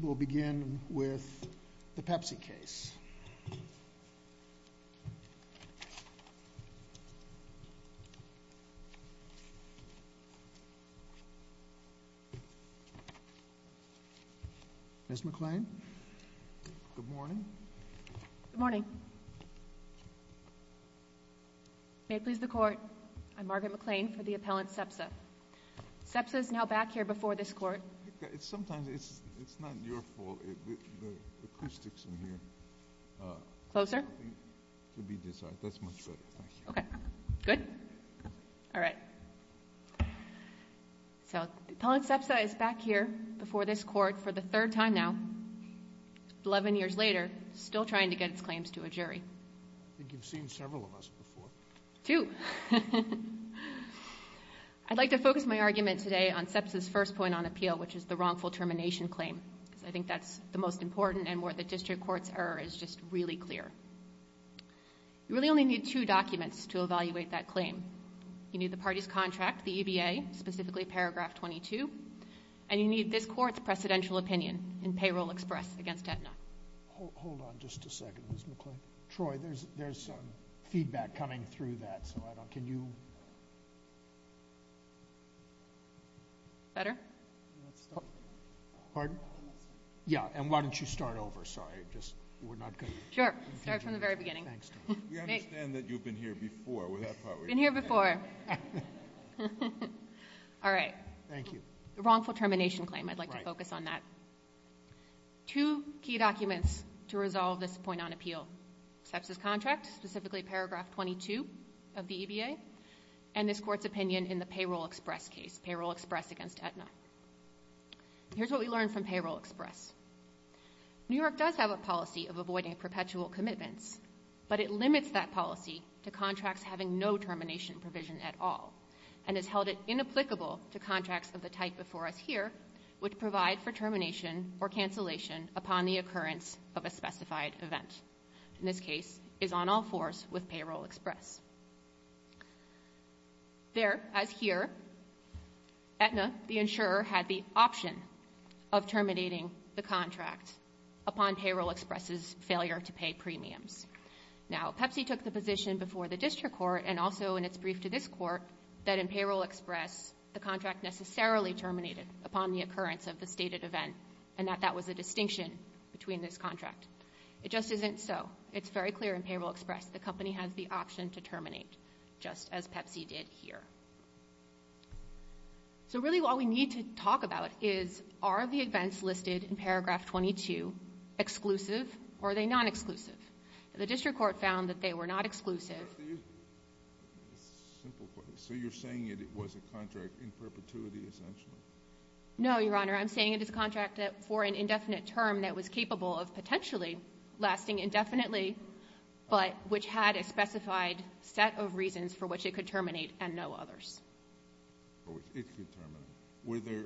we'll begin with the Pepsi case. Miss McClain. Good morning. Good morning. May it please the court. I'm Margaret McClain for the appellant Sepsa. Sepsa is now back here before this court. It's sometimes it's it's not your fault. Closer to be desired. That's much better. Okay, good. All right. So appellant Sepsa is back here before this court for the third time now. 11 years later still trying to get its claims to a jury. I think you've seen several of us before. Two. I'd like to focus my argument today on Sepsa's first point on appeal, which is the wrongful termination claim because I think that's the most important and where the district courts are is just really clear. You really only need two documents to evaluate that claim. You need the party's contract the EBA specifically paragraph 22 and you need this court's presidential opinion in payroll express against Aetna. Hold on just a second. Miss McClain. Troy, there's there's some feedback coming through that so I don't can you. Better? Oh, pardon. Yeah, and why don't you start over? Sorry, just we're not going to. Sure. Start from the very beginning. Thanks. We understand that you've been here before with that part. We've been here before. All right. Thank you. The wrongful termination claim. I'd like to focus on that. Two key documents to resolve this point on appeal. Sepsa's contract specifically paragraph 22 of the EBA and this court's opinion in the payroll express case payroll express against Aetna. Here's what we learned from payroll express. New York does have a policy of avoiding perpetual commitments, but it limits that policy to contracts having no termination provision at all and has held it inapplicable to contracts of the type before us here would provide for termination or cancellation upon the occurrence of a specified event in this case is on all fours with payroll express. There, as here, Aetna, the insurer, had the option of terminating the contract upon payroll express's failure to pay premiums. Now, Pepsi took the position before the district court and also in its brief to this court that in payroll express, the contract necessarily terminated upon the occurrence of the stated event and that that was a distinction between this contract. It just isn't so. The company has the option to terminate the contract. Just as Pepsi did here. So really what we need to talk about is are the events listed in paragraph 22 exclusive or are they non-exclusive? The district court found that they were not exclusive. So you're saying it was a contract in perpetuity, essentially? No, Your Honor. I'm saying it is a contract for an indefinite term that was capable of potentially lasting indefinitely, but which had a set of reasons for which it could terminate and no others. Were there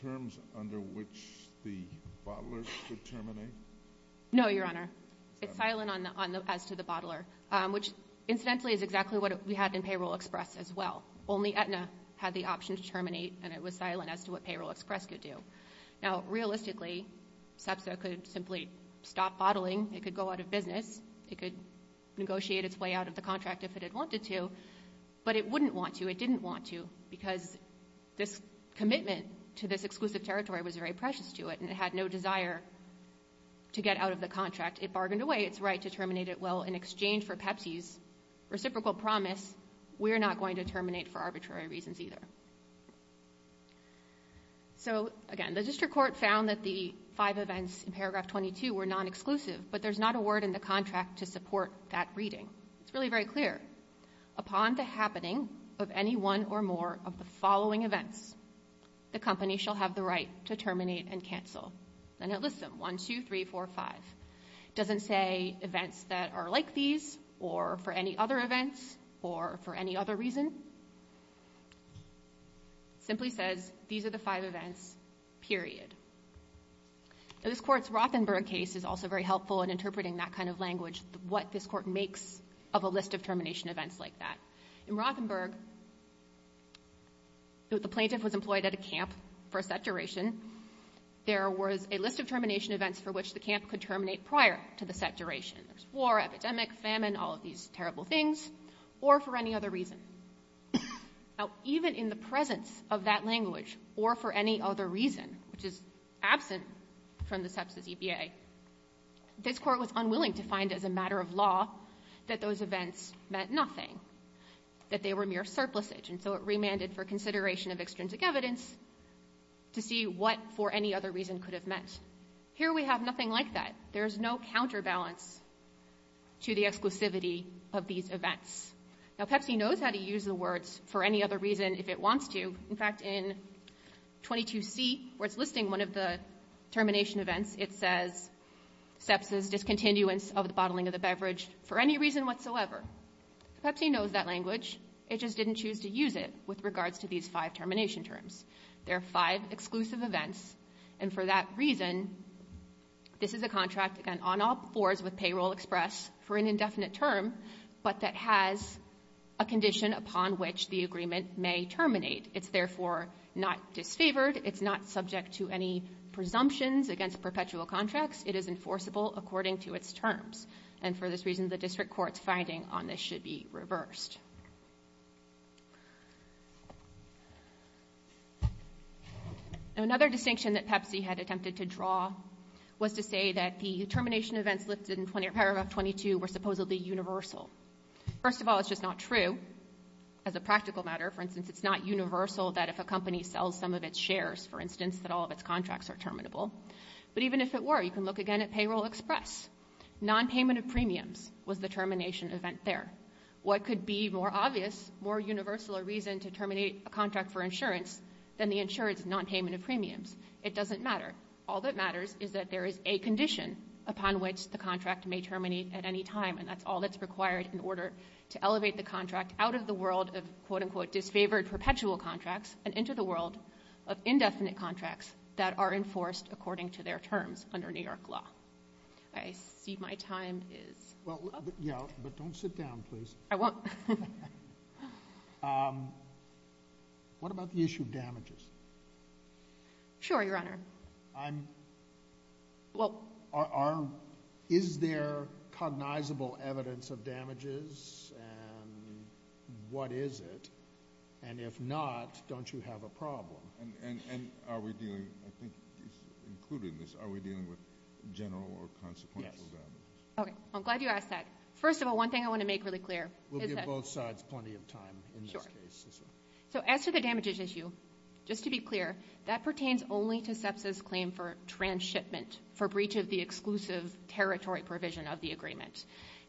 terms under which the bottlers could terminate? No, Your Honor. It's silent as to the bottler, which incidentally is exactly what we had in payroll express as well. Only Aetna had the option to terminate and it was silent as to what payroll express could do. Now, realistically, SEPSA could simply stop bottling. It could go out of business. It could negotiate its way out of the contract if it had wanted to, but it wouldn't want to. It didn't want to because this commitment to this exclusive territory was very precious to it and it had no desire to get out of the contract. It bargained away its right to terminate it. Well, in exchange for Pepsi's reciprocal promise, we're not going to terminate for arbitrary reasons either. So, again, the district court found that the five events in paragraph 22 were non-exclusive, but there's not a word in the contract to support that reading. It's really very clear. Upon the happening of any one or more of the following events, the company shall have the right to terminate and cancel. And it lists them, one, two, three, four, five. It doesn't say events that are like these or for any other events or for any other reason. It simply says, these are the five events, period. Now, this court's Rothenberg case is also very helpful in interpreting that kind of language, what this court makes of a list of termination events like that. In Rothenberg, the plaintiff was employed at a camp for a set duration. There was a list of termination events for which the camp could terminate prior to the set duration. There's war, epidemic, famine, all of these terrible things, or for any other reason. Now, even in the presence of that language or for any other reason, which is absent from the sepsis EPA, this court was unwilling to find as a matter of law that those events meant nothing, that they were mere surplusage. And so it remanded for consideration of extrinsic evidence to see what for any other reason could have meant. Here we have nothing like that. There is no counterbalance to the exclusivity of these events. Now, Pepsi knows how to use the words for any other reason if it wants to. In fact, in 22C, where it's listing one of the termination events, it says sepsis, discontinuance of the bottling of the beverage for any reason whatsoever. Pepsi knows that language. It just didn't choose to use it with regards to these five termination terms. There are five exclusive events. And for that reason, this is a contract, again, on all fours of Payroll Express for an indefinite term, but that has a condition upon which the agreement may terminate. It's therefore not disfavored. It's not subject to any presumptions against perpetual contracts. It is enforceable according to its terms. And for this reason, the district court's finding on this should be reversed. Another distinction that Pepsi had attempted to draw was to say that the termination events listed in paragraph 22 were supposedly universal. First of all, it's just not true. As a practical matter, for instance, it's not universal that if a company sells some of its shares, for instance, that all of its contracts are terminable. But even if it were, you can look again at Payroll Express. Non-payment of premiums was the termination event there. What could be more obvious, more universal a reason to terminate a contract for insurance than the insurance non-payment of premiums? It doesn't matter. All that matters is that there is a condition upon which the contract may terminate at any time. And that's all that's required in order to elevate the contract out of the world of quote-unquote disfavored perpetual contracts and into the world of indefinite contracts that are enforced according to their terms under New York law. I see my time is up. Yeah, but don't sit down, please. I won't. What about the issue of damages? Sure, Your Honor. I'm, well, are, is there cognizable evidence of damages and what is it? And if not, don't you have a problem? And are we dealing, I think, including this, are we dealing with general or consequential damages? Okay, I'm glad you asked that. First of all, one thing I want to make really clear. We'll give both sides plenty of time in this case. So as to the damages issue, just to be clear, that pertains only to SEPSA's claim for transshipment for breach of the exclusive territory provision of the agreement.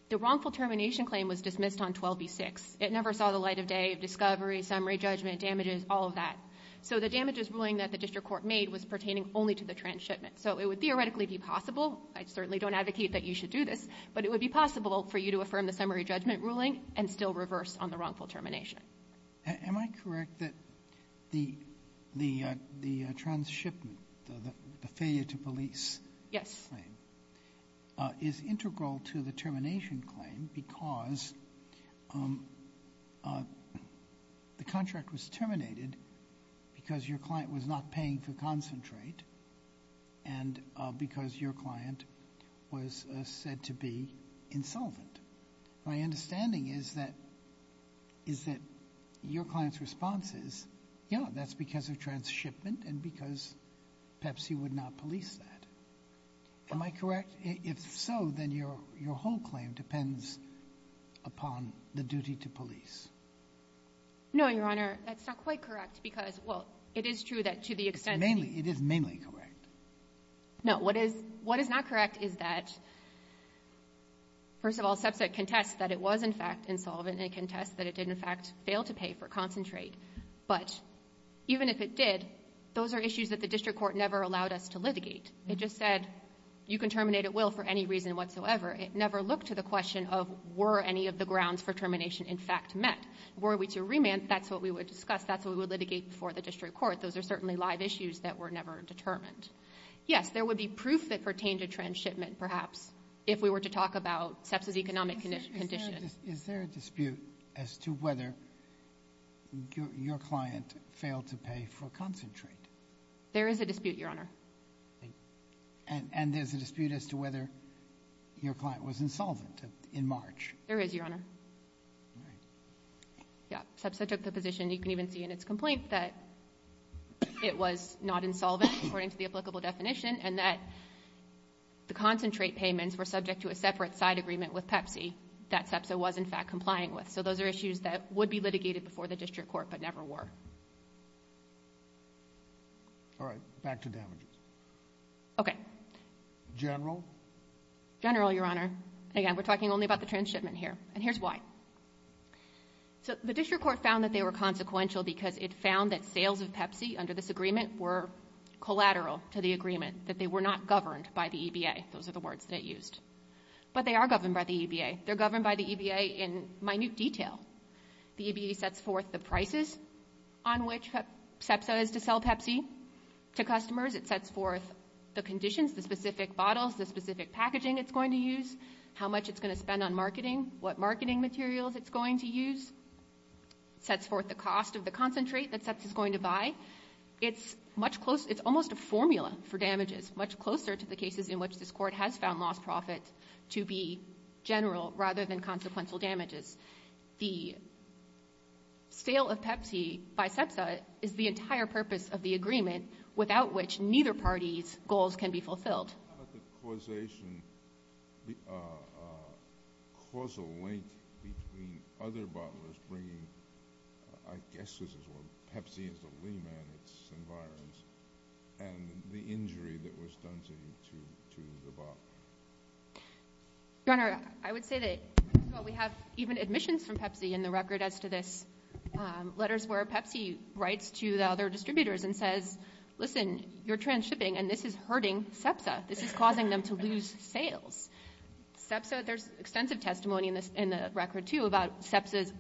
The wrongful termination claim was dismissed on 12B6. It never saw the light of day of discovery, summary judgment, damages, all of that. So the damages ruling that the district court made was pertaining only to the transshipment. So it would theoretically be possible. I certainly don't advocate that you should do this, but it would be possible for you to affirm the summary judgment ruling and still reverse on the wrongful termination. Am I correct that the transshipment, the failure to police? Yes. Is integral to the termination claim because the contract was terminated because your client was not paying for concentrate and because your client was said to be insolvent. My understanding is that your client's response is, yeah, that's because of transshipment and because Pepsi would not police that. Am I correct? If so, then your whole claim depends upon the duty to police. No, Your Honor. That's not quite correct because, well, it is true that to the extent, it is mainly correct. No, what is not correct is that, first of all, SEPSA contests that it was, in fact, insolvent and it contests that it did, in fact, fail to pay for concentrate. But even if it did, those are issues that the district court never allowed us to litigate. It just said you can terminate at will for any reason whatsoever. It never looked to the question of were any of the grounds for termination, in fact, met. Were we to remand, that's what we would discuss. That's what we would litigate before the district court. Those are certainly live issues that were never determined. Yes, there would be proof that pertained to transshipment, perhaps, if we were to talk about SEPSA's economic condition. Is there a dispute as to whether your client failed to pay for concentrate? There is a dispute, Your Honor. And there's a dispute as to whether your client was insolvent in March. There is, Your Honor. Yeah, SEPSA took the position, you can even see in its complaint, that it was not insolvent according to the applicable definition and that the concentrate payments were subject to a separate side agreement with Pepsi that SEPSA was, in fact, complying with. So those are issues that would be litigated before the district court but never were. All right, back to damages. Okay. General? General, Your Honor. Again, we're talking only about the transshipment here and here's why. So the district court found that they were consequential because it found that sales of Pepsi under this agreement were collateral to the agreement, that they were not governed by the EBA. Those are the words that it used. But they are governed by the EBA. They're governed by the EBA in minute detail. The EBA sets forth the prices on which SEPSA is to sell Pepsi to customers. It sets forth the conditions, the specific bottles, the specific packaging it's going to use, how much it's going to spend on marketing, what marketing materials it's going to use. Sets forth the cost of the concentrate that SEPSA is going to buy. It's much closer. It's almost a formula for damages, much closer to the cases in which this court has found lost profit to be general rather than consequential damages. The sale of Pepsi by SEPSA is the entire purpose of the agreement without which neither party's goals can be fulfilled. How about the causation, the causal link between other bottlers bringing, I guess this is where Pepsi is the lean man in its environment, and the injury that was done to the bot? Your Honor, I would say that, well, we have even admissions from Pepsi in the record as to this, letters where Pepsi writes to the other distributors and says, listen, you're transshipping and this is hurting SEPSA. This is causing them to lose sales. SEPSA, there's extensive testimony in this, in the record too, about SEPSA's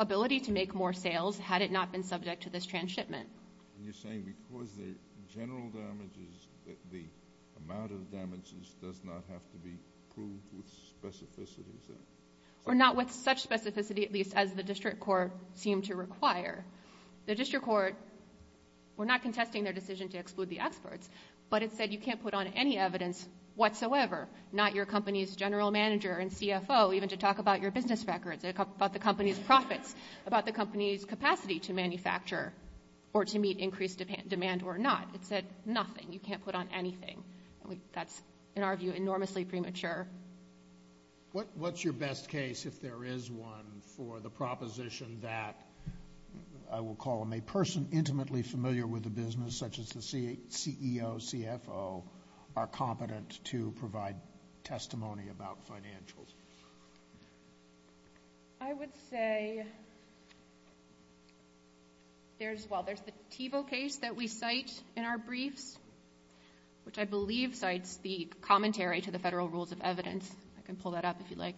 ability to make more sales had it not been subject to this transshipment. You're saying because the general damages, the amount of damages does not have to be proved with specificity? Or not with such specificity, at least as the district court seemed to require. The district court were not contesting their decision to exclude the experts, but it said you can't put on any evidence whatsoever, not your company's general manager and CFO, even to talk about your business records, about the company's profits, about the company's capacity to manufacture or to meet increased demand or not. It said nothing. You can't put on anything. That's, in our view, enormously premature. What's your best case, if there is one, for the proposition that, I will call them, a person intimately familiar with the business, such as the CEO, CFO, are competent to provide testimony about financials? I would say there's, well, there's the Tevo case that we cite in our briefs, which I believe cites the commentary to the federal rules of evidence. I can pull that up if you'd like.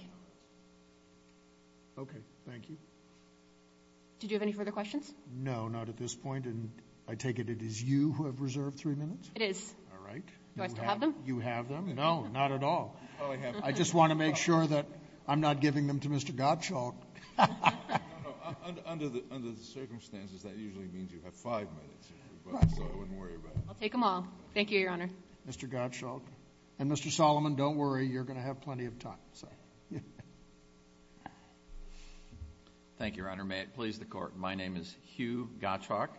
Okay. Thank you. Did you have any further questions? No, not at this point. And I take it it is you who have reserved three minutes? It is. All right. Do I still have them? You have them? No, not at all. I just want to make sure that I'm not giving them to Mr. Gottschalk. Under the circumstances, that usually means you have five minutes, so I wouldn't worry about it. I'll take them all. Thank you, Your Honor. Mr. Gottschalk. And Mr. Solomon, don't worry. You're going to have plenty of time. Thank you, Your Honor. My name is Hugh Gottschalk.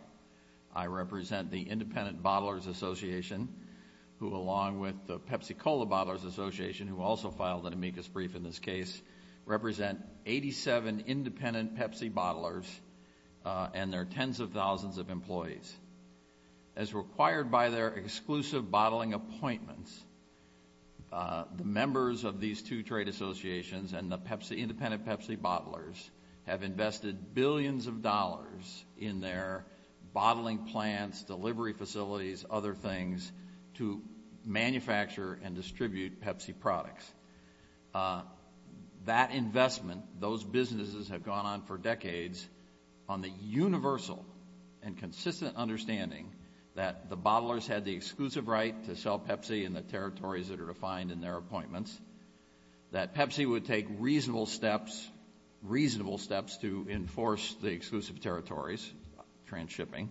I represent the Independent Bottlers Association, who, along with the Pepsi-Cola Bottlers Association, who also filed an amicus brief in this case, represent 87 independent Pepsi bottlers and their tens of thousands of employees. As required by their exclusive bottling appointments, the members of these two trade associations and the independent Pepsi bottlers have invested billions of dollars in their bottling plants, delivery facilities, other things, to manufacture and distribute Pepsi products. That investment, those businesses have gone on for decades on the universal and consistent understanding that the bottlers had the exclusive right to sell Pepsi in the territories that are defined in their appointments, that Pepsi would take reasonable steps, reasonable steps to enforce the exclusive territories, transshipping,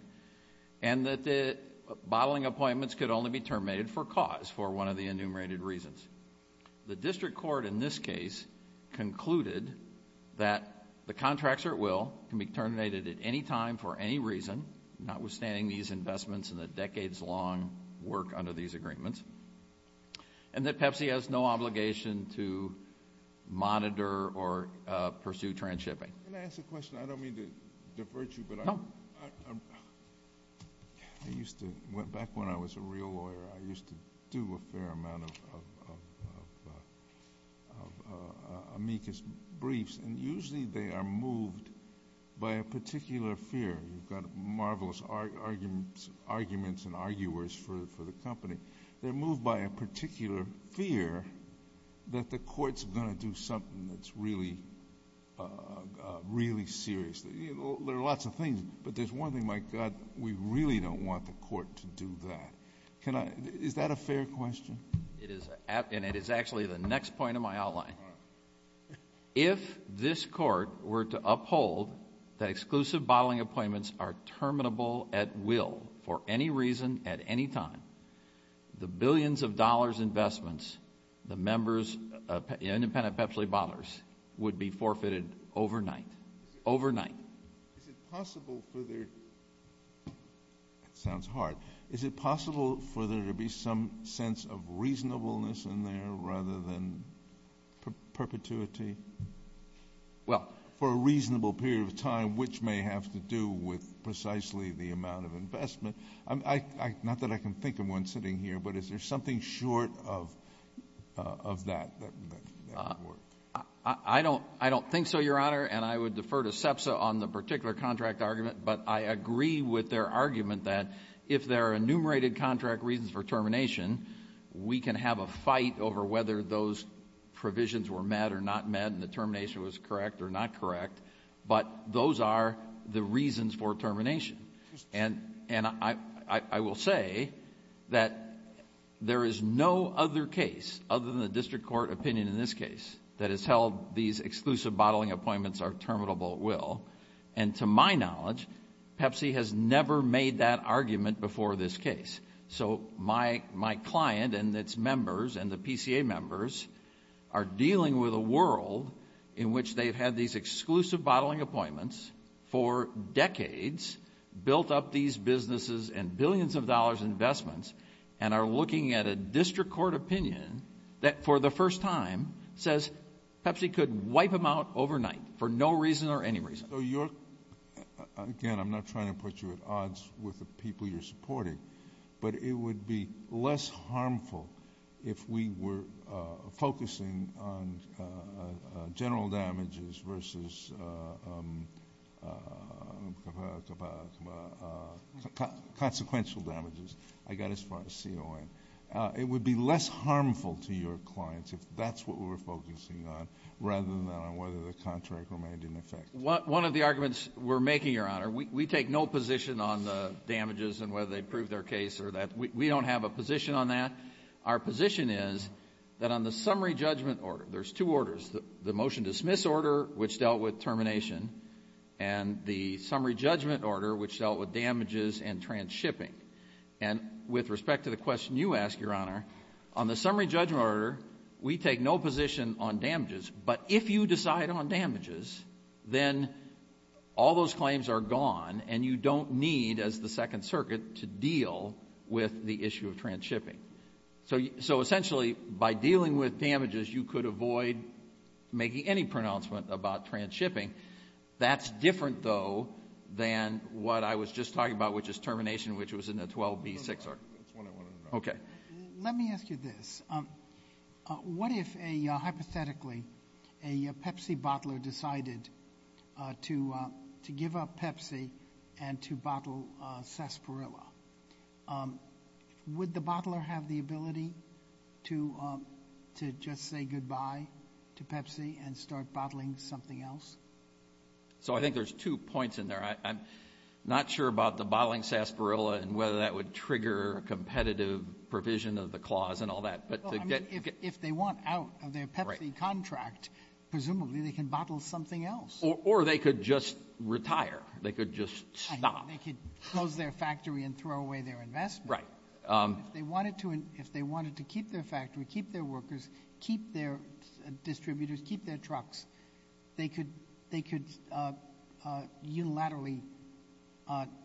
and that the bottling appointments could only be terminated for cause, for one of the enumerated reasons. The district court in this case concluded that the contracts or at will can be terminated at any time for any reason, not withstanding these investments and the decades-long work under these agreements, and that Pepsi has no obligation to monitor or pursue transshipping. Can I ask a question? I don't mean to divert you, but I used to... went back when I was a real lawyer. I used to do a fair amount of amicus briefs, and usually they are moved by a particular fear. You've got marvelous arguments and arguers for the company. They're moved by a particular fear that the court's going to do something that's really, really serious. There are lots of things, but there's one thing, my God, we really don't want the court to do that. Can I... is that a fair question? It is, and it is actually the next point of my outline. If this court were to uphold that exclusive bottling appointments are terminable at will for any reason at any time, the billions of dollars investments, the members... the independent Pepsi bottlers would be forfeited overnight, overnight. Is it possible for there... that sounds hard. Is it possible for there to be some sense of reasonableness in there rather than perpetuity? Well... For a reasonable period of time, which may have to do with precisely the amount of investment. Not that I can think of one sitting here, but is there something short of that? I don't think so, Your Honor. I would defer to CEPSA on the particular contract argument, but I agree with their argument that if there are enumerated contract reasons for termination, we can have a fight over whether those provisions were met or not met, and the termination was correct or not correct, but those are the reasons for termination. I will say that there is no other case, other than the district court opinion in this case, that has held these exclusive bottling appointments are terminable at will, and to my knowledge, Pepsi has never made that argument before this case, so my client and its members and the PCA members are dealing with a world in which they've had these exclusive bottling appointments for decades, built up these businesses and billions of dollars investments, and are looking at a district court opinion that, for the first time, says Pepsi could wipe them out overnight, for no reason or any reason. So you're, again, I'm not trying to put you at odds with the people you're supporting, but it would be less harmful if we were focusing on general damages versus consequential damages. I got as far as CON. It would be less harmful to your clients if that's what we were focusing on, rather than on whether the contract remained in effect. One of the arguments we're making, Your Honor, we take no position on the damages and whether they prove their case or that. We don't have a position on that. Our position is that on the summary judgment order, there's two orders, the motion dismiss order, which dealt with termination, and the summary judgment order, which dealt with damages and transshipping. And with respect to the question you asked, Your Honor, on the summary judgment order, we take no position on damages. But if you decide on damages, then all those claims are gone and you don't need, as the Second Circuit, to deal with the issue of transshipping. So essentially, by dealing with damages, you could avoid making any pronouncement about transshipping. That's different, though, than what I was just talking about, which is in the 12B6R. That's what I wanted to know. Okay. Let me ask you this. What if, hypothetically, a Pepsi bottler decided to give up Pepsi and to bottle Sarsaparilla? Would the bottler have the ability to just say goodbye to Pepsi and start bottling something else? So I think there's two points in there. I'm not sure about the bottling Sarsaparilla and whether that would trigger a competitive provision of the clause and all that. But to get — Well, I mean, if they want out of their Pepsi contract, presumably they can bottle something else. Or they could just retire. They could just stop. They could close their factory and throw away their investment. Right. If they wanted to keep their factory, keep their workers, keep their employees, and then possibly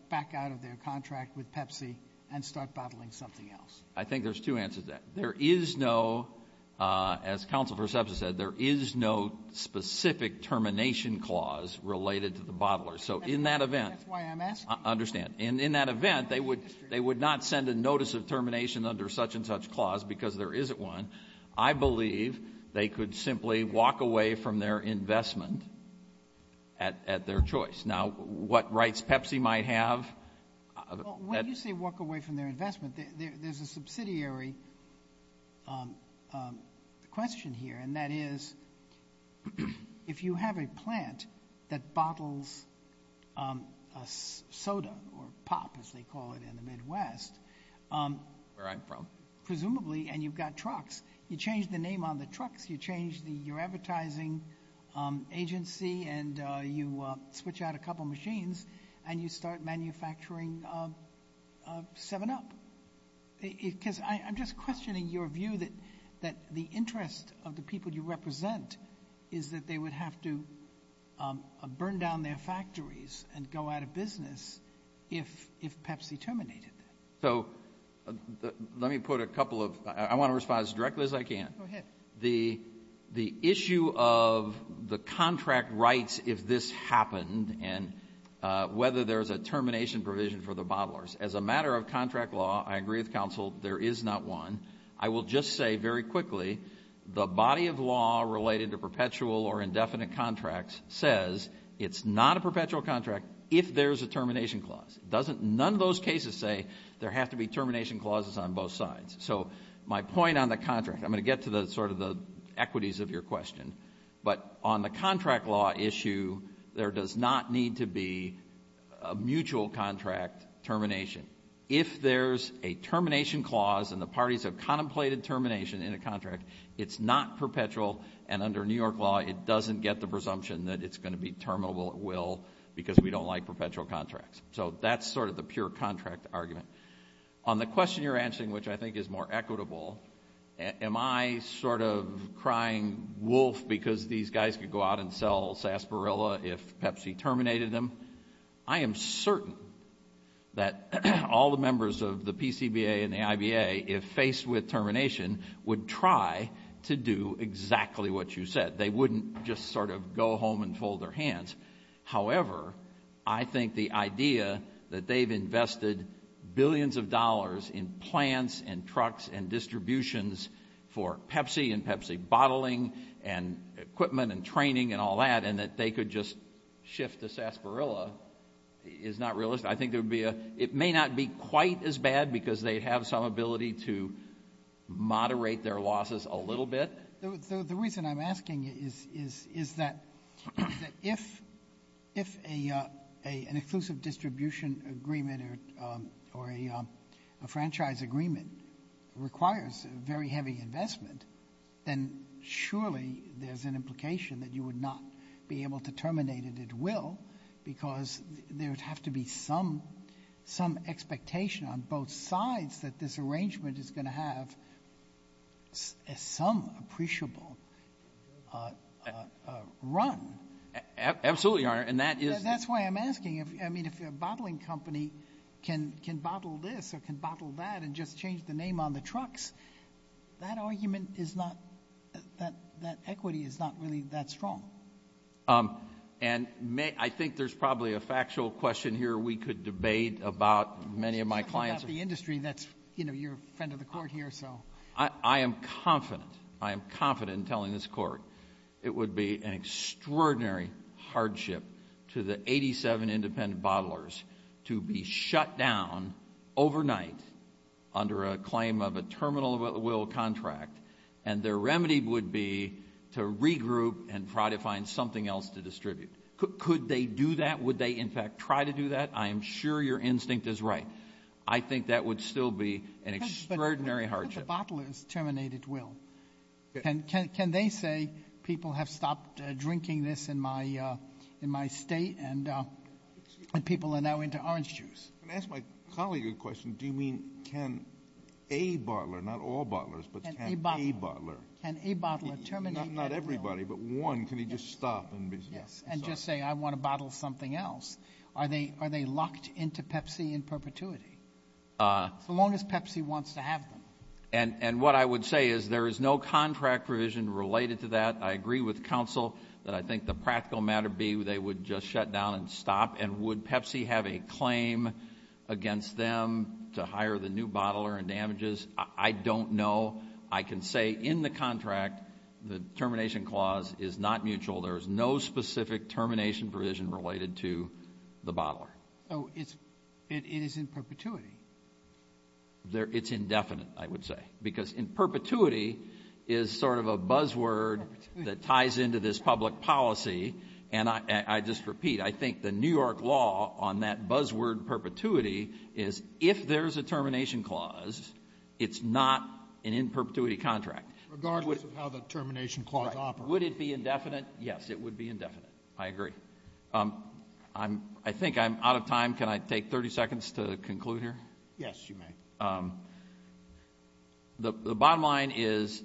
back out of their contract with Pepsi and start bottling something else. I think there's two answers to that. There is no — as Counsel for Substance said, there is no specific termination clause related to the bottler. So in that event — That's why I'm asking. I understand. And in that event, they would not send a notice of termination under such and such clause because there isn't one. I believe they could simply walk away from their investment at their choice. Now, what rights Pepsi might have — Well, when you say walk away from their investment, there's a subsidiary question here. And that is, if you have a plant that bottles soda or pop, as they call it in the Midwest — Where I'm from. Presumably. And you've got trucks. You change the name on the trucks. You change your advertising agency, and you switch out a couple machines, and you start manufacturing 7-Up. Because I'm just questioning your view that the interest of the people you represent is that they would have to burn down their factories and go out of business if Pepsi terminated them. So let me put a couple of — I want to respond as directly as I can. Go ahead. The issue of the contract rights, if this happened, and whether there's a termination provision for the bottlers. As a matter of contract law, I agree with counsel, there is not one. I will just say very quickly, the body of law related to perpetual or indefinite contracts says it's not a perpetual contract if there's a termination clause. It doesn't — none of those cases say there have to be termination clauses on both sides. So my point on the contract — I'm going to get to the sort of the equities of your question — but on the contract law issue, there does not need to be a mutual contract termination. If there's a termination clause and the parties have contemplated termination in a contract, it's not perpetual. And under New York law, it doesn't get the presumption that it's going to be terminable at will because we don't like perpetual contracts. So that's sort of the pure contract argument. On the question you're answering, which I think is more equitable, am I sort of crying wolf because these guys could go out and sell Sarsaparilla if Pepsi terminated them? I am certain that all the members of the PCBA and the IBA, if faced with termination, would try to do exactly what you said. They wouldn't just sort of go home and fold their hands. However, I think the idea that they've invested billions of dollars in plants and trucks and distributions for Pepsi and Pepsi bottling and equipment and training and all that, and that they could just shift to Sarsaparilla is not realistic. I think there would be a — it may not be quite as bad because they have some ability to moderate their losses a little bit. The reason I'm asking is that if an exclusive distribution agreement or a franchise agreement requires very heavy investment, then surely there's an implication that you would not be able to terminate it at will because there would have to be some expectation on both sides that this arrangement is going to have some appreciable run. Absolutely, Your Honor. And that is — That's why I'm asking. I mean, if a bottling company can bottle this or can bottle that and just change the name on the trucks, that argument is not — that equity is not really that strong. And I think there's probably a factual question here we could debate about many of my clients — Well, if it's the industry, that's, you know, you're a friend of the Court here, so — I am confident — I am confident in telling this Court it would be an extraordinary hardship to the 87 independent bottlers to be shut down overnight under a claim of a terminal-of-will contract, and their remedy would be to regroup and try to find something else to distribute. Could they do that? Would they, in fact, try to do that? I am sure your instinct is right. I think that would still be an extraordinary hardship. But what if the bottlers terminate at will? Can they say, people have stopped drinking this in my state, and people are now into orange juice? Can I ask my colleague a question? Do you mean can a bottler — not all bottlers, but can a bottler — Can a bottler terminate at will? Not everybody, but one. Can he just stop and be — Yes, and just say, I want to bottle something else. Are they locked into Pepsi in perpetuity? As long as Pepsi wants to have them. And what I would say is there is no contract provision related to that. I agree with counsel that I think the practical matter would be they would just shut down and stop. And would Pepsi have a claim against them to hire the new bottler and damages? I don't know. I can say in the contract, the termination clause is not mutual. There is no specific termination provision related to the bottler. So it is in perpetuity? It's indefinite, I would say. Because in perpetuity is sort of a buzzword that ties into this public policy. And I just repeat, I think the New York law on that buzzword perpetuity is, if there's a termination clause, it's not an in perpetuity contract. Regardless of how the termination clause operates. Would it be indefinite? Yes, it would be indefinite. I agree. I think I'm out of time. Can I take 30 seconds to conclude here? Yes, you may. The bottom line is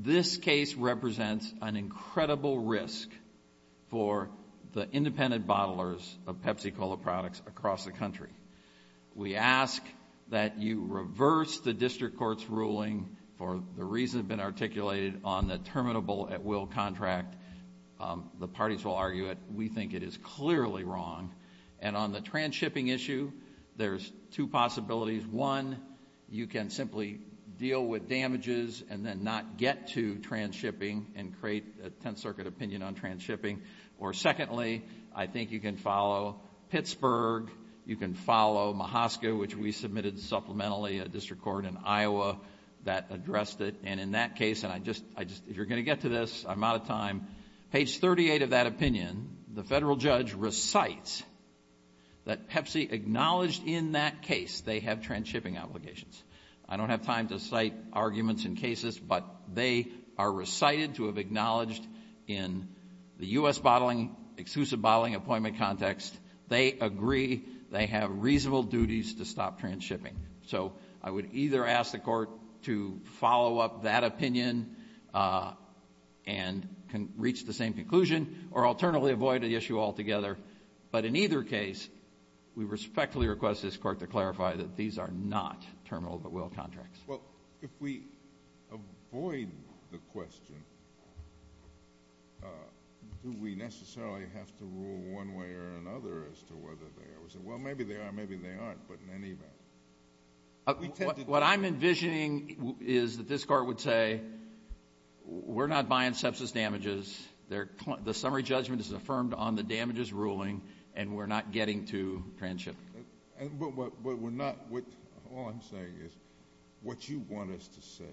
this case represents an incredible risk for the independent bottlers of Pepsi Cola products across the country. We ask that you reverse the district court's ruling for the reason that has been articulated on the terminable at will contract. The parties will argue it. We think it is clearly wrong. And on the trans-shipping issue, there's two possibilities. One, you can simply deal with damages and then not get to trans-shipping and create a Tenth Circuit opinion on trans-shipping. Or secondly, I think you can follow Pittsburgh. You can follow Mahaska, which we submitted supplementally a district court in Iowa that addressed it. And in that case, and I just, if you're going to get to this, I'm out of time. Page 38 of that opinion, the federal judge recites that Pepsi acknowledged in that case they have trans-shipping obligations. I don't have time to cite arguments in cases, but they are recited to have acknowledged in the U.S. exclusive bottling appointment context. They agree they have reasonable duties to stop trans-shipping. So I would either ask the court to follow up that opinion and reach the same conclusion or alternatively avoid the issue altogether. But in either case, we respectfully request this court to clarify that these are not terminable at will contracts. Well, if we avoid the question, do we necessarily have to rule one way or another as to whether they are? Well, maybe they are, maybe they aren't, but in any event. What I'm envisioning is that this court would say, we're not buying sepsis damages. The summary judgment is affirmed on the damages ruling and we're not getting to trans-shipping. But we're not, all I'm saying is, what you want us to say,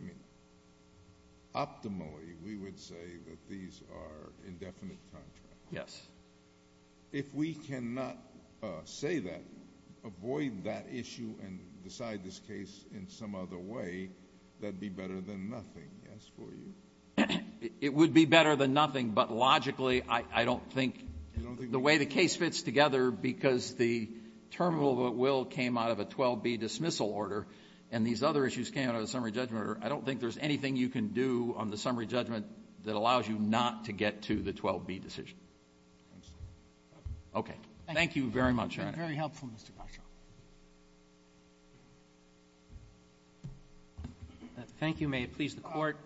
I mean, optimally, we would say that these are indefinite contracts. Yes. If we cannot say that, avoid that issue and decide this case in some other way, that'd be better than nothing, yes, for you? It would be better than nothing, but logically, I don't think the way the case fits together because the terminable at will came out of a 12B dismissal order and these other issues came out of a summary judgment order, I don't think there's anything you can do on the summary judgment that allows you not to get to the 12B decision. Okay. Thank you very much, Your Honor. That's been very helpful, Mr. Castro. Thank you. May it please the Court.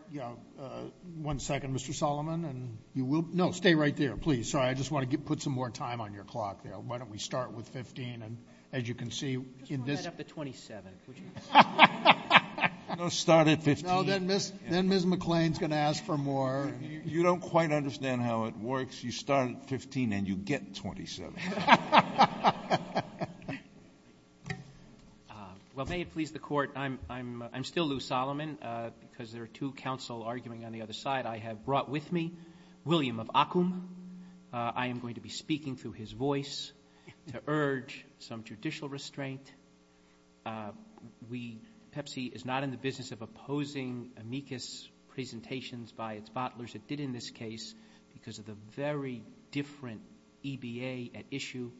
One second, Mr. Solomon. And you will, no, stay right there, please. Sorry, I just want to put some more time on your clock there. Why don't we start with 15 and as you can see in this. I just want to head up to 27. No, start at 15. You don't quite understand how it works. You start at 15 and you get 27. Well, may it please the Court. I'm still Lou Solomon because there are two counsel arguing on the other side. I have brought with me William of Akum. I am going to be speaking through his voice to urge some judicial restraint. Pepsi is not in the business of opposing amicus presentations by its butlers. It did in this case because of the very different EBA at issue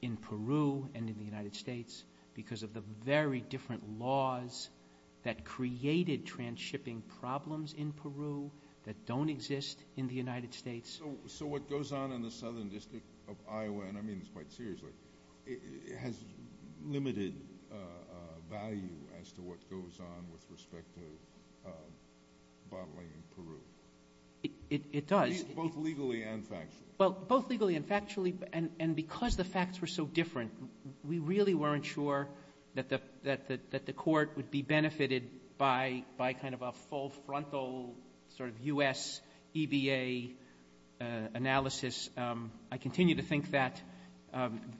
in Peru and in the United States because of the very different laws that created transshipping problems in Peru that don't exist in the United States. So what goes on in the southern district of Iowa, and I mean this quite seriously, has limited value as to what goes on with respect to bottling in Peru. It does. Both legally and factually. Well, both legally and factually and because the facts were so different, we really weren't sure that the Court would be benefited by kind of a full frontal sort of U.S. EBA analysis. I continue to think that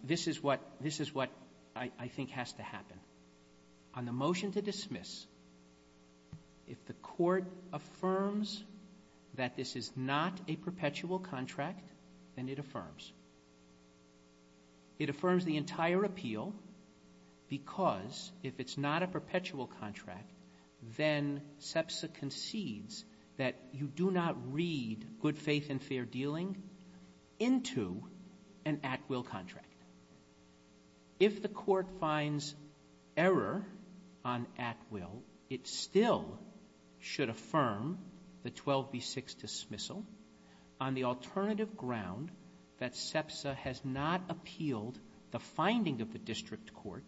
this is what I think has to happen. On the motion to dismiss, if the Court affirms that this is not a perpetual contract, then it affirms. It affirms the entire appeal because if it's not a perpetual contract, then SEPSA concedes that you do not read good faith and fair dealing into an at-will contract. If the Court finds error on at-will, it still should affirm the 12B6 dismissal on the alternative ground that SEPSA has not appealed the finding of the district court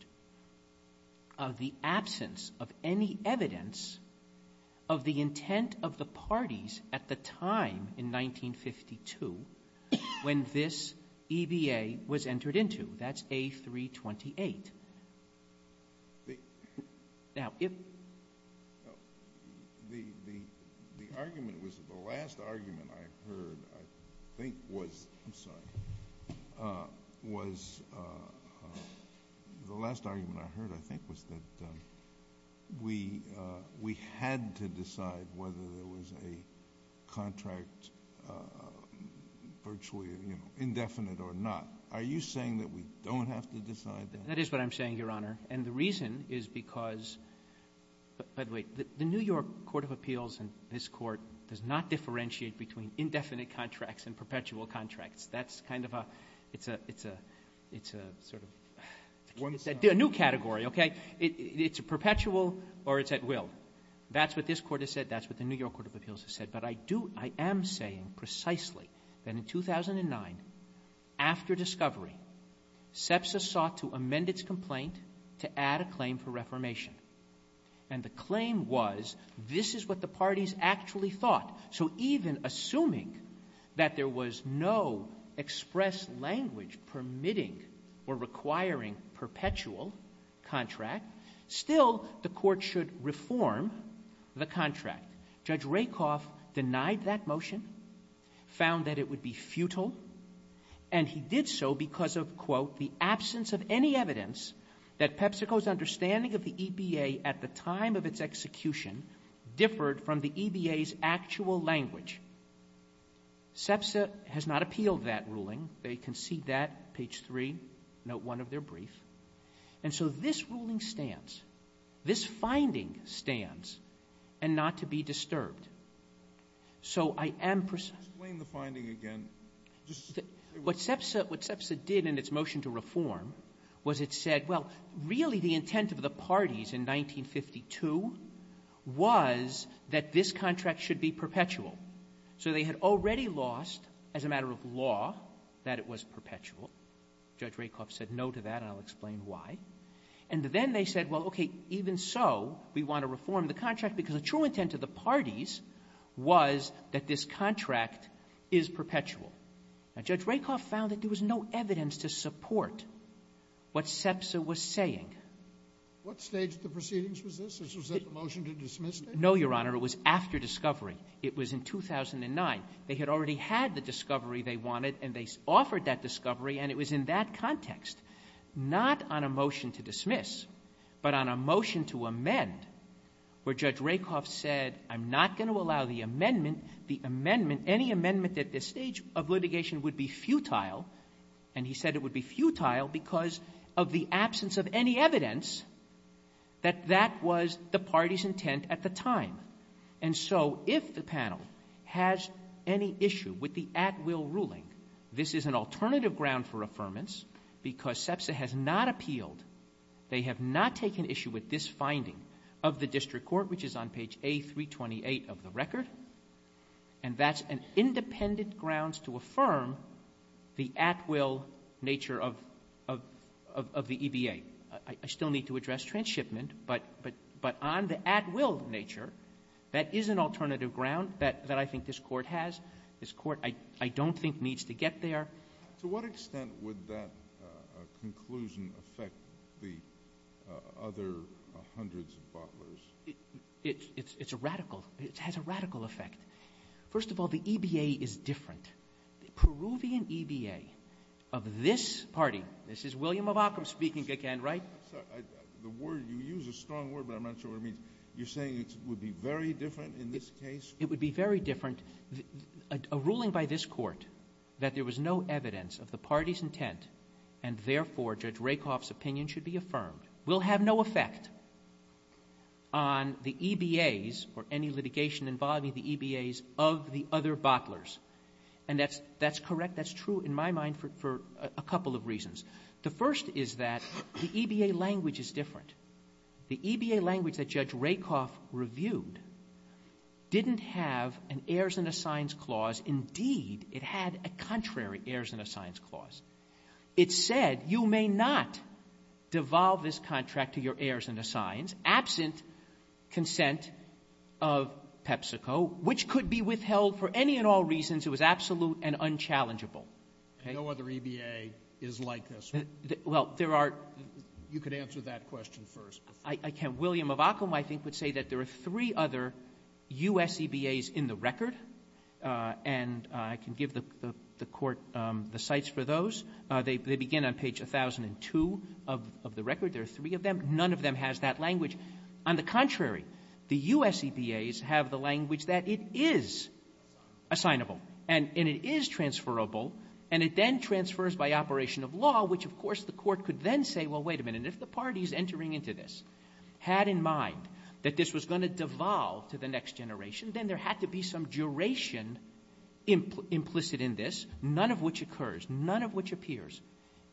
of the absence of any evidence of the intent of the parties at the time in 1952 when this EBA was entered into. That's A328. The last argument I heard, I think, was that we had to decide whether there was a contract virtually indefinite or not. Are you saying that we don't have to decide that? That is what I'm saying, Your Honor. And the reason is because, by the way, the New York Court of Appeals and this Court does not differentiate between indefinite contracts and perpetual contracts. That's kind of a, it's a sort of new category, okay? It's a perpetual or it's at-will. That's what this Court has said. That's what the New York Court of Appeals has said. But I do, I am saying precisely that in 2009, after discovery, SEPSA sought to amend its complaint to add a claim for reformation. And the claim was, this is what the parties actually thought. So even assuming that there was no express language permitting or requiring perpetual contract, still the Court should reform the contract. Judge Rakoff denied that motion, found that it would be futile, and he did so because of, quote, the absence of any evidence that PepsiCo's understanding of the EBA at the time of its execution differed from the EBA's actual language. SEPSA has not appealed that ruling. They concede that, page 3, note 1 of their brief. And so this ruling stands. This finding stands, and not to be disturbed. So I am... Explain the finding again. What SEPSA did in its motion to reform was it said, well, really the intent of the parties in 1952 was that this contract should be perpetual. So they had already lost, as a matter of law, that it was perpetual. Judge Rakoff said no to that, and I'll explain why. And then they said, well, okay, even so, we want to reform the contract because the true intent of the parties was that this contract is perpetual. Now Judge Rakoff found that there was no evidence to support what SEPSA was saying. What stage of the proceedings was this? Was this a motion to dismiss it? No, Your Honor. It was after discovery. It was in 2009. They had already had the discovery they wanted, and they offered that discovery, and it was in that context, not on a motion to dismiss, but on a motion to amend where Judge Rakoff said, I'm not going to allow the amendment, the amendment, any amendment at this stage of litigation would be futile. And he said it would be futile because of the absence of any evidence that that was the party's intent at the time. And so if the panel has any issue with the at-will ruling, this is an alternative ground for affirmance because SEPSA has not appealed. They have not taken issue with this finding of the district court, which is on page A328 of the record, and that's an independent grounds to affirm the at-will nature of the EBA. I still need to address transshipment, but on the at-will nature, that is an alternative ground that I think this court has. This court, I don't think, needs to get there. To what extent would that conclusion affect the other hundreds of butlers? It's a radical. It has a radical effect. First of all, the EBA is different. The Peruvian EBA of this party, this is William of Ockham speaking again, right? You use a strong word, but I'm not sure what it means. You're saying it would be very different in this case? It would be very different. A ruling by this court that there was no evidence of the party's intent and, therefore, Judge Rakoff's opinion should be affirmed will have no effect on the EBAs or any litigation involving the EBAs of the other butlers. And that's correct. That's true in my mind for a couple of reasons. The first is that the EBA language is different. The EBA language that Judge Rakoff reviewed didn't have an heirs and assigns clause. Indeed, it had a contrary heirs and assigns clause. It said you may not devolve this contract to your heirs and assigns absent consent of PepsiCo, which could be withheld for any and all reasons. It was absolute and unchallengeable. No other EBA is like this. Well, there are – You could answer that question first. I can. William of Ockham, I think, would say that there are three other U.S. EBAs in the record. And I can give the court the cites for those. They begin on page 1002 of the record. There are three of them. None of them has that language. On the contrary, the U.S. EBAs have the language that it is assignable and it is transferable and it then transfers by operation of law, which, of course, the court could then say, well, wait a minute, if the parties entering into this had in mind that this was going to devolve to the next generation, then there had to be some duration implicit in this, none of which occurs, none of which appears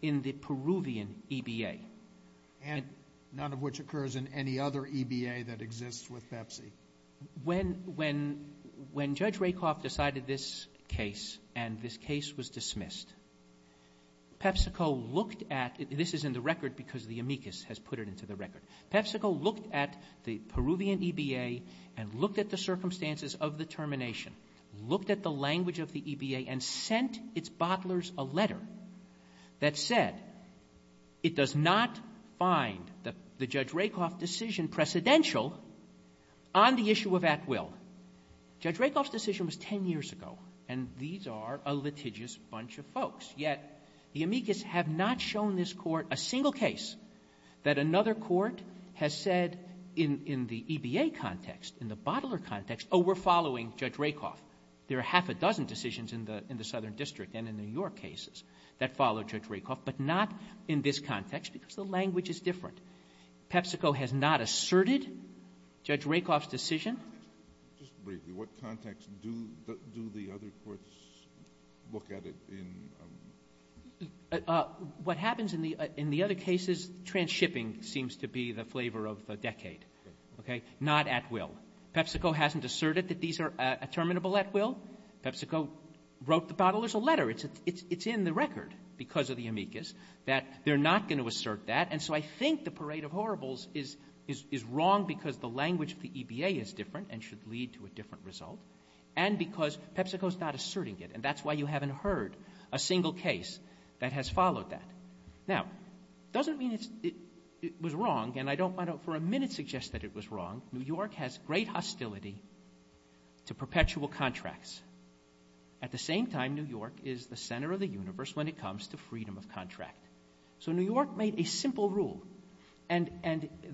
in the Peruvian EBA. And none of which occurs in any other EBA that exists with Pepsi. When Judge Rakoff decided this case and this case was dismissed, PepsiCo looked at – this is in the record because the amicus has put it into the record. PepsiCo looked at the Peruvian EBA and looked at the circumstances of the termination, looked at the language of the EBA, and sent its bottlers a letter that said it does not find the Judge Rakoff decision precedential on the issue of at will. Judge Rakoff's decision was 10 years ago, and these are a litigious bunch of folks. Yet the amicus have not shown this court a single case that another court has said in the EBA context, in the bottler context, oh, we're following Judge Rakoff. There are half a dozen decisions in the Southern District and in the New York cases that follow Judge Rakoff, but not in this context because the language is different. PepsiCo has not asserted Judge Rakoff's decision. Just briefly, what context do the other courts look at it in? What happens in the other cases, transshipping seems to be the flavor of the decade. Okay? Not at will. PepsiCo hasn't asserted that these are a terminable at will. PepsiCo wrote the bottlers a letter. It's in the record because of the amicus that they're not going to assert that, and so I think the parade of horribles is wrong because the language of the EBA is different and should lead to a different result and because PepsiCo is not asserting it, and that's why you haven't heard a single case that has followed that. Now, it doesn't mean it was wrong, and I don't want to for a minute suggest that it was wrong. New York has great hostility to perpetual contracts. At the same time, New York is the center of the universe when it comes to freedom of contract. So New York made a simple rule, and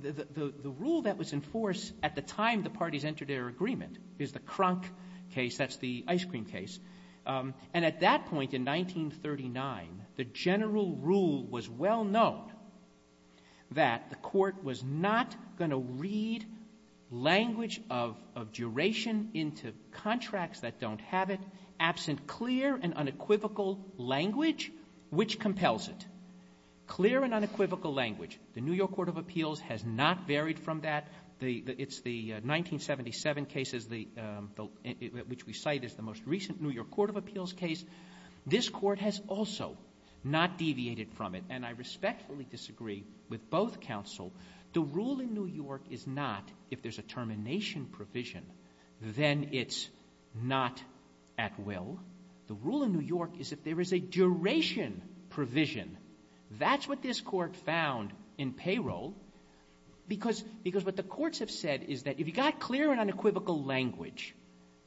the rule that was in force at the time the parties entered their agreement is the Kronk case, that's the ice cream case, and at that point in 1939, the general rule was well known that the court was not going to read language of duration into contracts that don't have it absent clear and unequivocal language, which compels it. Clear and unequivocal language. The New York Court of Appeals has not varied from that. It's the 1977 case which we cite as the most recent New York Court of Appeals case. This court has also not deviated from it, and I respectfully disagree with both counsel. The rule in New York is not, if there's a termination provision, then it's not at will. The rule in New York is, if there is a duration provision, that's what this court found in payroll, because what the courts have said is that if you got clear and unequivocal language,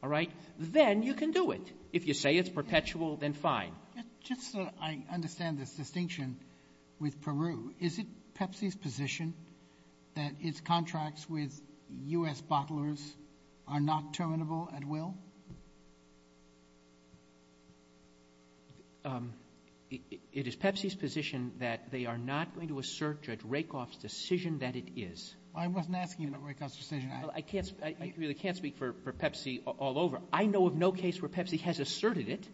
all right, then you can do it. If you say it's perpetual, then fine. Just so I understand this distinction with Peru, is it Pepsi's position that its contracts with U.S. bottlers are not terminable at will? It is Pepsi's position that they are not going to assert Judge Rakoff's decision that it is. I wasn't asking about Rakoff's decision. I really can't speak for Pepsi all over. I know of no case where Pepsi has asserted it.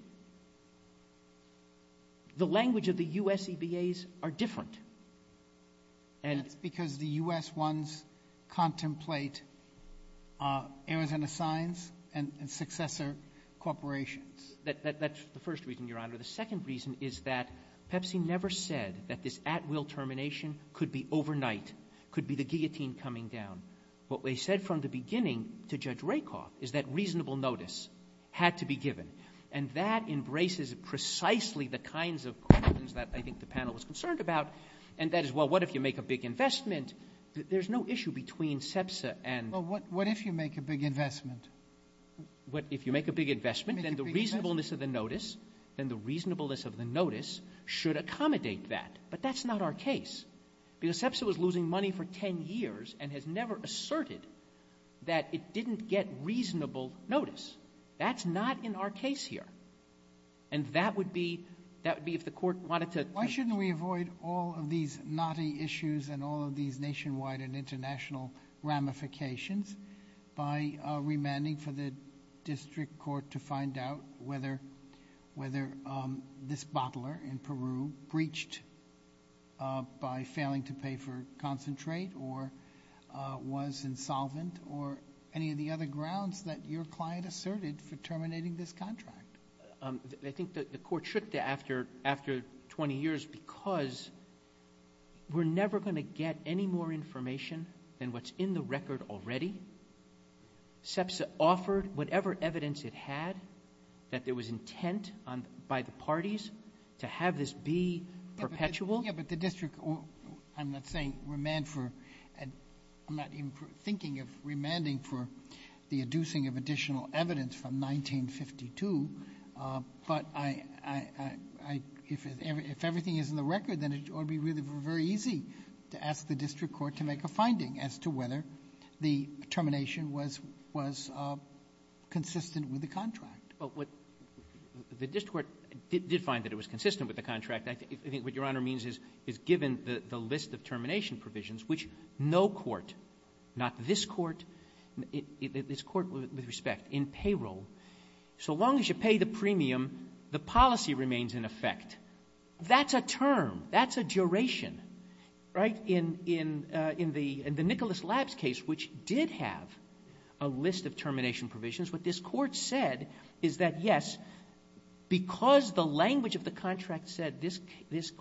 The language of the U.S. EBAs are different. That's because the U.S. ones contemplate Arizona Signs and successor corporations. That's the first reason, Your Honor. The second reason is that Pepsi never said that this at-will termination could be overnight, could be the guillotine coming down. What they said from the beginning to Judge Rakoff is that reasonable notice had to be given. And that embraces precisely the kinds of questions that I think the panel was concerned about. And that is, well, what if you make a big investment? There's no issue between SEPSA and... Well, what if you make a big investment? If you make a big investment, then the reasonableness of the notice should accommodate that. But that's not our case. Because SEPSA was losing money for 10 years and has never asserted that it didn't get reasonable notice. That's not in our case here. And that would be if the court wanted to... Why shouldn't we avoid all of these naughty issues and all of these nationwide and international ramifications by remanding for the district court to find out whether this bottler in Peru breached by failing to pay for concentrate or was insolvent or any of the other grounds that your client asserted for terminating this contract? I think the court should after 20 years because we're never going to get any more information than what's in the record already. SEPSA offered whatever evidence it had that there was intent by the parties to have this be perpetual. Yeah, but the district... I'm not saying remand for... I'm not even thinking of remanding for the adducing of additional evidence from 1952. But I... If everything is in the record, then it ought to be really very easy to ask the district court to make a finding as to whether the termination was consistent with the contract. Well, what the district court did find that it was consistent with the contract. I think what Your Honor means is given the list of termination provisions, which no court, not this court, this court with respect, in payroll, so long as you pay the premium, the policy remains in effect. That's a term. That's a duration. Right? In the Nicholas Labs case, which did have a list of termination provisions, what this court said is that, yes, because the language of the contract said this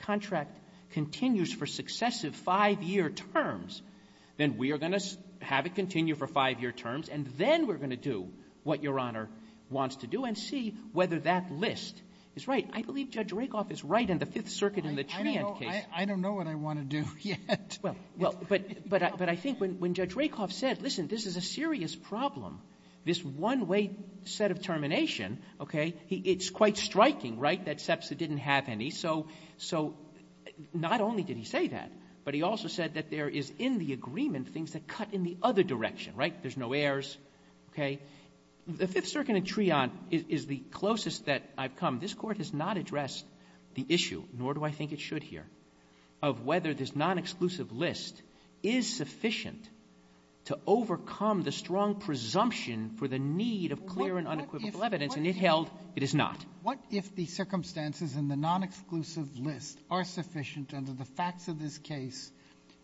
contract continues for successive five-year terms, then we are going to have it continue for five-year terms, and then we're going to do what Your Honor wants to do and see whether that list is right. I believe Judge Rakoff is right in the Fifth Circuit in the Treant case. I don't know what I want to do yet. But I think when Judge Rakoff said, listen, this is a serious problem, this one-way set of termination, okay, it's quite striking, right, that SEPSA didn't have any. So not only did he say that, but he also said that there is in the agreement things that cut in the other direction, right, there's no errors, okay. The Fifth Circuit in Treant is the closest that I've come. This Court has not addressed the issue, nor do I think it should here, of whether this non-exclusive list is sufficient to overcome the strong presumption for the need of clear and unequivocal evidence, and it held it is not. What if the circumstances in the non-exclusive list are sufficient under the facts of this case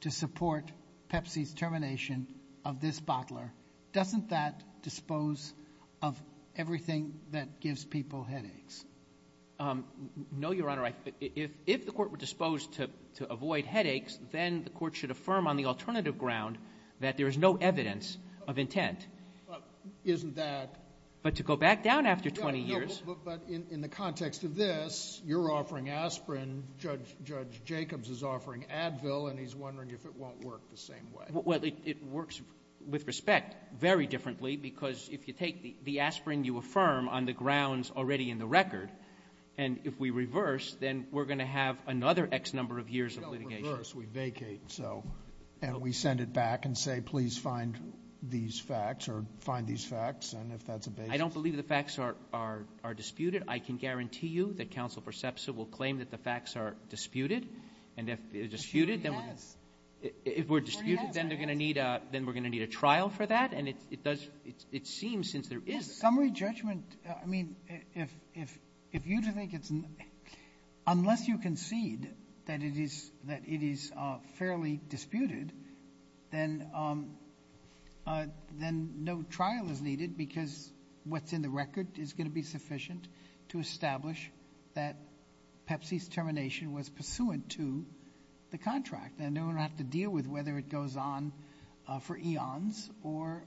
to support Pepsi's termination of this bottler? Doesn't that dispose of everything that gives people headaches? No, Your Honor. If the Court were disposed to avoid headaches, then the Court should affirm on the alternative ground that there is no evidence of intent. Isn't that... But to go back down after 20 years... But in the context of this, you're offering aspirin, Judge Jacobs is offering Advil, and he's wondering if it won't work the same way. Well, it works with respect very differently, because if you take the aspirin you affirm on the grounds already in the record, and if we reverse, then we're going to have another X number of years of litigation. We don't reverse, we vacate. And we send it back and say, please find these facts, or find these facts, and if that's a basis... I don't believe the facts are disputed. I can guarantee you that Counsel Persepsa will claim that the facts are disputed, and if they're disputed... If we're disputed, then we're going to need a trial for that, and it seems since there is... Summary judgment... I mean, if you think it's... Unless you concede that it is fairly disputed, then no trial is needed, because what's in the to establish that Pepsi's termination was pursuant to the contract, and we don't have to deal with whether it goes on for eons, or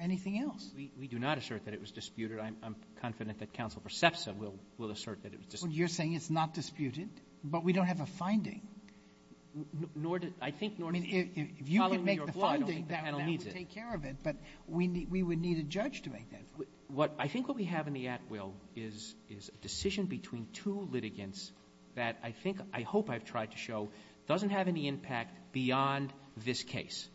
anything else. We do not assert that it was disputed. I'm confident that Counsel Persepsa will assert that it was disputed. You're saying it's not disputed, but we don't have a finding. Nor do... I think... If you can make the finding, that would take care of it, but we would need the judge to make that finding. I think what we have in the at-will is a decision between two litigants that I think, I hope I've tried to show, doesn't have any impact beyond this case.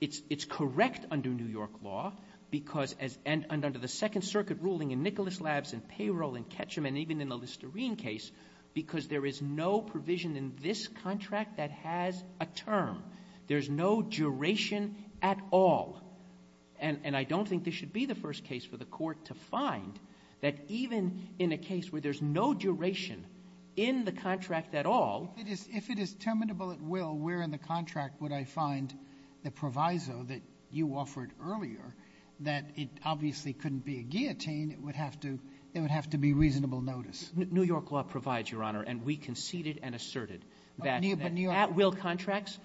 It's correct under New York law, because as... Under the Second Circuit ruling in Nicholas Labs and Payroll and Ketchum, and even in the Listerine case, because there is no provision in this contract that has a term. There's no duration at all. And I don't think this should be the first case for the Court to find that even in a case where there's no duration in the contract at all... If it is terminable at will, where in the contract would I find the proviso that you offered earlier that it obviously couldn't be a guillotine, it would have to be reasonable notice. New York law provides, Your Honor, and we conceded and asserted that at-will contracts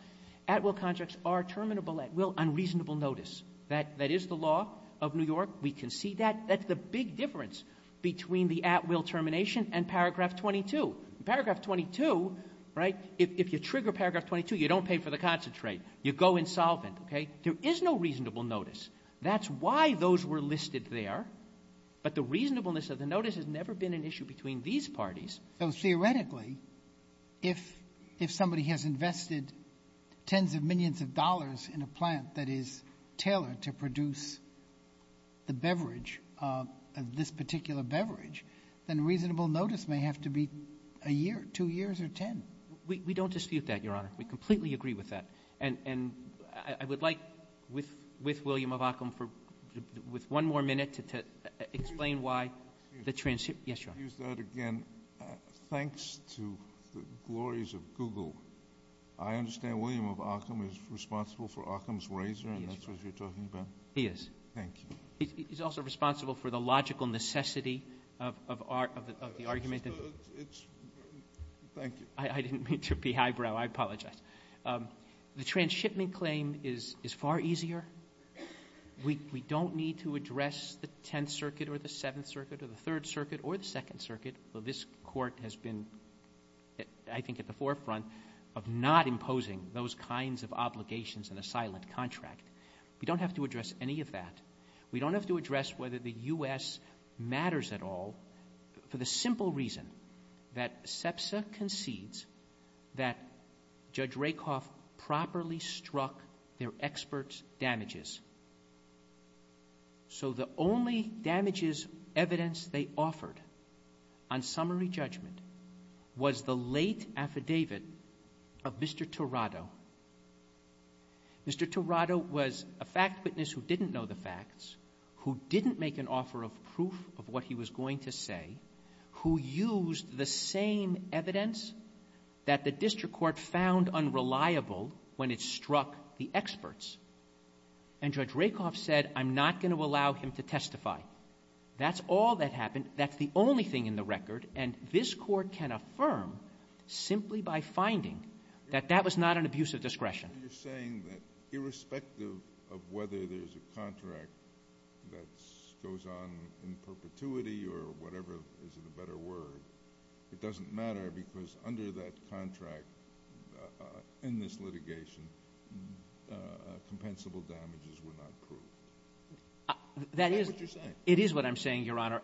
are terminable at will on reasonable notice. That is the law of New York. We concede that. That's the big difference between the at-will termination and Paragraph 22. Paragraph 22, right, if you trigger Paragraph 22, you don't pay for the concentrate. You go insolvent, okay? There is no reasonable notice. That's why those were listed there. But the reasonableness of the notice has never been an issue between these parties. So theoretically, if somebody has invested tens of millions of dollars in a plant that is tailored to produce the beverage, this particular beverage, then reasonable notice may have to be a year, two years, or ten. We don't dispute that, Your Honor. We completely agree with that. And I would like with William of Ockham with one more minute to explain why the transition... Yes, Your Honor. I'll use that again. Thanks to the glories of Google, I understand William of Ockham is responsible for Ockham's razor, and that's what you're talking about? He is. Thank you. He's also responsible for the logical necessity of the argument that... Thank you. I didn't mean to be highbrow. I apologize. The transshipment claim is far easier. We don't need to address the Tenth Circuit or the Seventh Circuit or the Third Circuit or the Second Circuit. This Court has been I think at the forefront of not imposing those kinds of obligations in a silent contract. We don't have to address any of that. We don't have to address whether the U.S. matters at all for the simple reason that SEPSA concedes that Judge Rakoff properly struck their experts' damages. So the only damages evidence they offered on summary judgment was the late affidavit of Mr. Tirado. Mr. Tirado was a fact witness who didn't know the facts, who didn't make an offer of proof of what he was going to say, who used the same evidence that the District Court found unreliable when it struck the experts. And Judge Rakoff said, I'm not going to allow him to testify. That's all that happened. That's the only thing in the record. And this Court can affirm simply by finding that that was not an abuse of discretion. You're saying that irrespective of whether there's a contract that goes on in perpetuity or whatever is the better word, it doesn't matter because under that contract in this litigation compensable damages were not proved. Is that what you're saying? It is what I'm saying, Your Honor.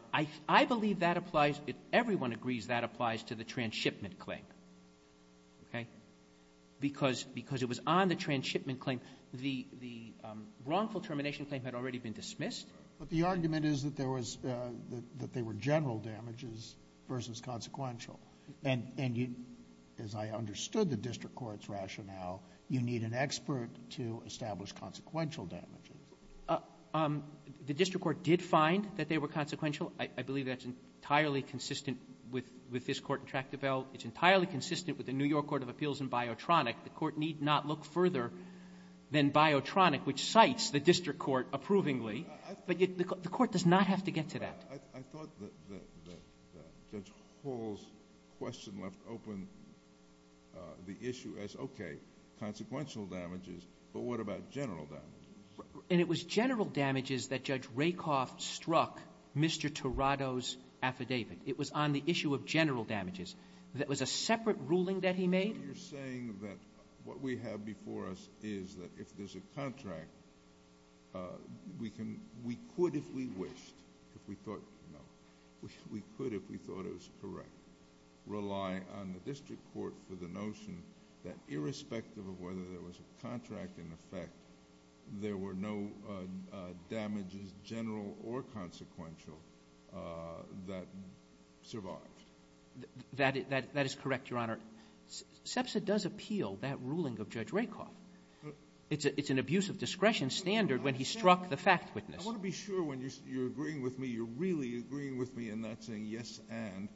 I believe that applies, if everyone agrees, that applies to the transshipment claim. Okay? Because it was on the transshipment claim the wrongful termination claim had already been dismissed. But the argument is that there was that they were general damages versus consequential. And as I understood the District Court's rationale, you need an expert to establish consequential damages. The District Court did find that they were consequential. I believe that's entirely consistent with this Court in Tractabelle. It's entirely consistent with the New York Court of Appeals in Biotronic. The Court need not look further than Biotronic, which cites the District Court approvingly. But the Court does not have to get to that. I thought that Judge Hall's question left open the issue as, okay, there were consequential damages, but what about general damages? And it was general damages that Judge Rakoff struck Mr. Tirado's affidavit. It was on the issue of general damages. That was a separate ruling that he made? You're saying that what we have before us is that if there's a contract we can we could, if we wished, if we thought, no, we could, if we thought it was correct, rely on the District Court for the notion that irrespective of whether there was a contract in effect there were no damages general or consequential that survived. That is correct, Your Honor. Sepsa does appeal that ruling of Judge Rakoff. It's an abuse of discretion standard when he struck the fact witness. I want to be sure when you're agreeing with me you're really agreeing with me and not saying yes and.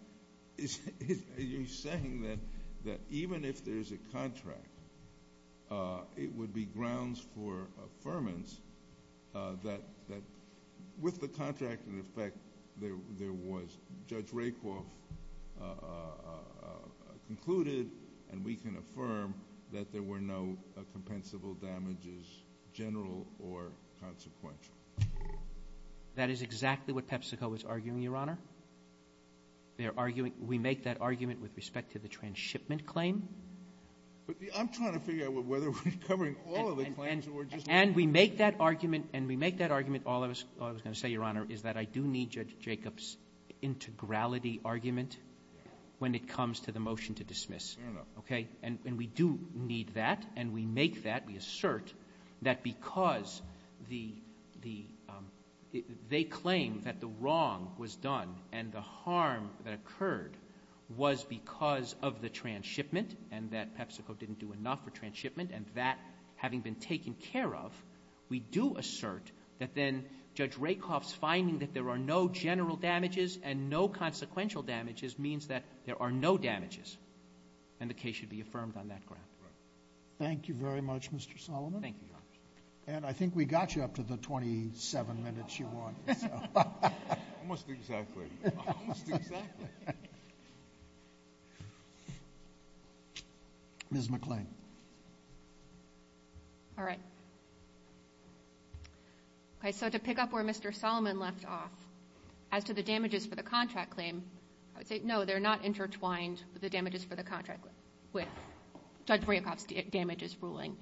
You're saying that even if there's a contract it would be grounds for affirmance that with the contract in effect there was Judge Rakoff concluded and we can affirm that there were no general or consequential. That is exactly what PepsiCo is arguing, Your Honor. We make that argument with respect to the transshipment claim. I'm trying to figure out whether we're covering all of the claims. And we make that argument all I was going to say, Your Honor, is that I do need Judge Rakoff's integrality argument when it comes to the motion to dismiss. Fair enough. And we do need that and we make that we assert that because they claim that the wrong was done and the harm that occurred was because of the transshipment and that PepsiCo didn't do enough for transshipment and that having been taken care of we do assert that then Judge Rakoff's finding that there are no general damages and no consequential damages means that there are no damages and the case should be affirmed on that ground. Thank you very much, Mr. Solomon. Thank you, Your Honor. And I think we got you up to the 27 minutes you wanted. Almost exactly. Ms. McClain. All right. Okay, so to pick up where Mr. Solomon left off as to the damages for the contract claim I would say no, they're not intertwined with the damages for the contract with Judge Rakoff's damages ruling.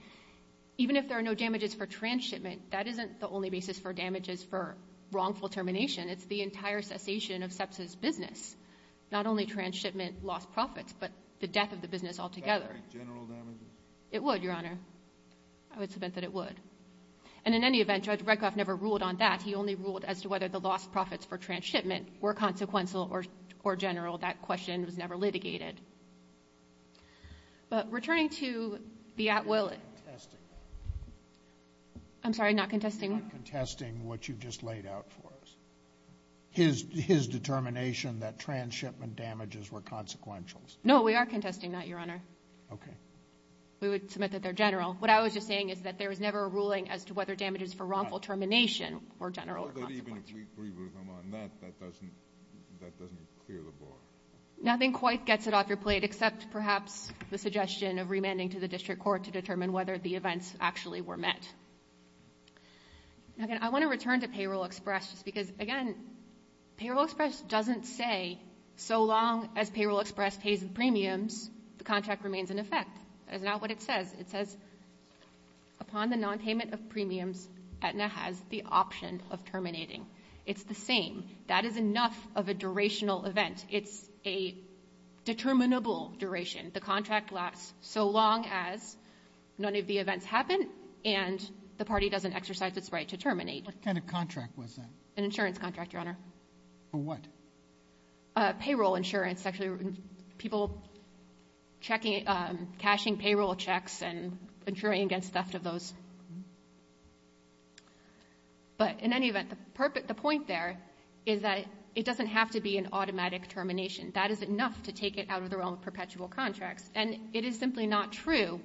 Even if there are no damages for transshipment, that isn't the only basis for damages for wrongful termination. It's the entire cessation of SEPSA's business. Not only transshipment lost profits, but the death of the business altogether. It would, Your Honor. I would submit that it would. And in any event, Judge Rakoff never ruled on that. He only ruled as to whether the lost profits for transshipment were consequential or general. That question was never litigated. But returning to the at will... I'm sorry, not contesting? Not contesting what you just laid out for us. His determination that transshipment damages were consequentials. No, we are contesting that, Your Honor. Okay. We would submit that they're general. What I was just saying is that there was never a ruling as to whether damages for wrongful termination were general or consequential. Even if we agree with him on that, that doesn't clear the board. Nothing quite gets it off your plate, except perhaps the suggestion of remanding to the district court to determine whether the events actually were met. I want to return to Payroll Express because, again, Payroll Express doesn't say so long as Payroll Express pays the premiums, the contract remains in effect. That is not what it says. It says upon the non-payment of premiums, Aetna has the option of terminating. It's the same. That is enough of a durational event. It's a determinable duration. The contract lasts so long as none of the events happen and the party doesn't exercise its right to terminate. What kind of contract was that? An insurance contract, Your Honor. For what? Payroll insurance. People cashing payroll checks and insuring against theft of those. But in any event, the point there is that it doesn't have to be an automatic termination. That is enough to take it out of the realm of perpetual contracts. And it is simply not true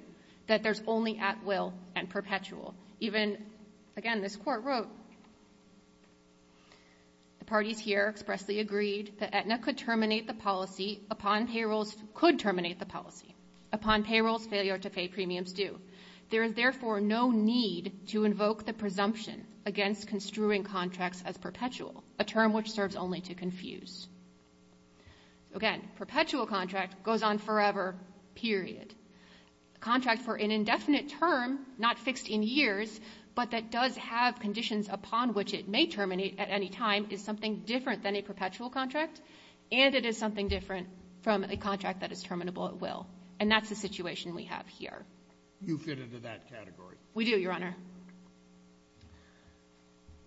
that there's only at will and perpetual. Even, again, this Court wrote the parties here expressly agreed that Aetna could terminate the policy upon payrolls could terminate the policy. Upon payrolls failure to pay premiums do. There is therefore no need to invoke the presumption against construing contracts as perpetual. A term which serves only to confuse. Again, perpetual contract goes on forever, period. Contract for an indefinite term, not fixed in years, but that does have conditions upon which it may terminate at any time is something different than a perpetual contract, and it is something different from a contract that is terminable at will. And that's the situation we have here. You fit into that category. We do, Your Honor.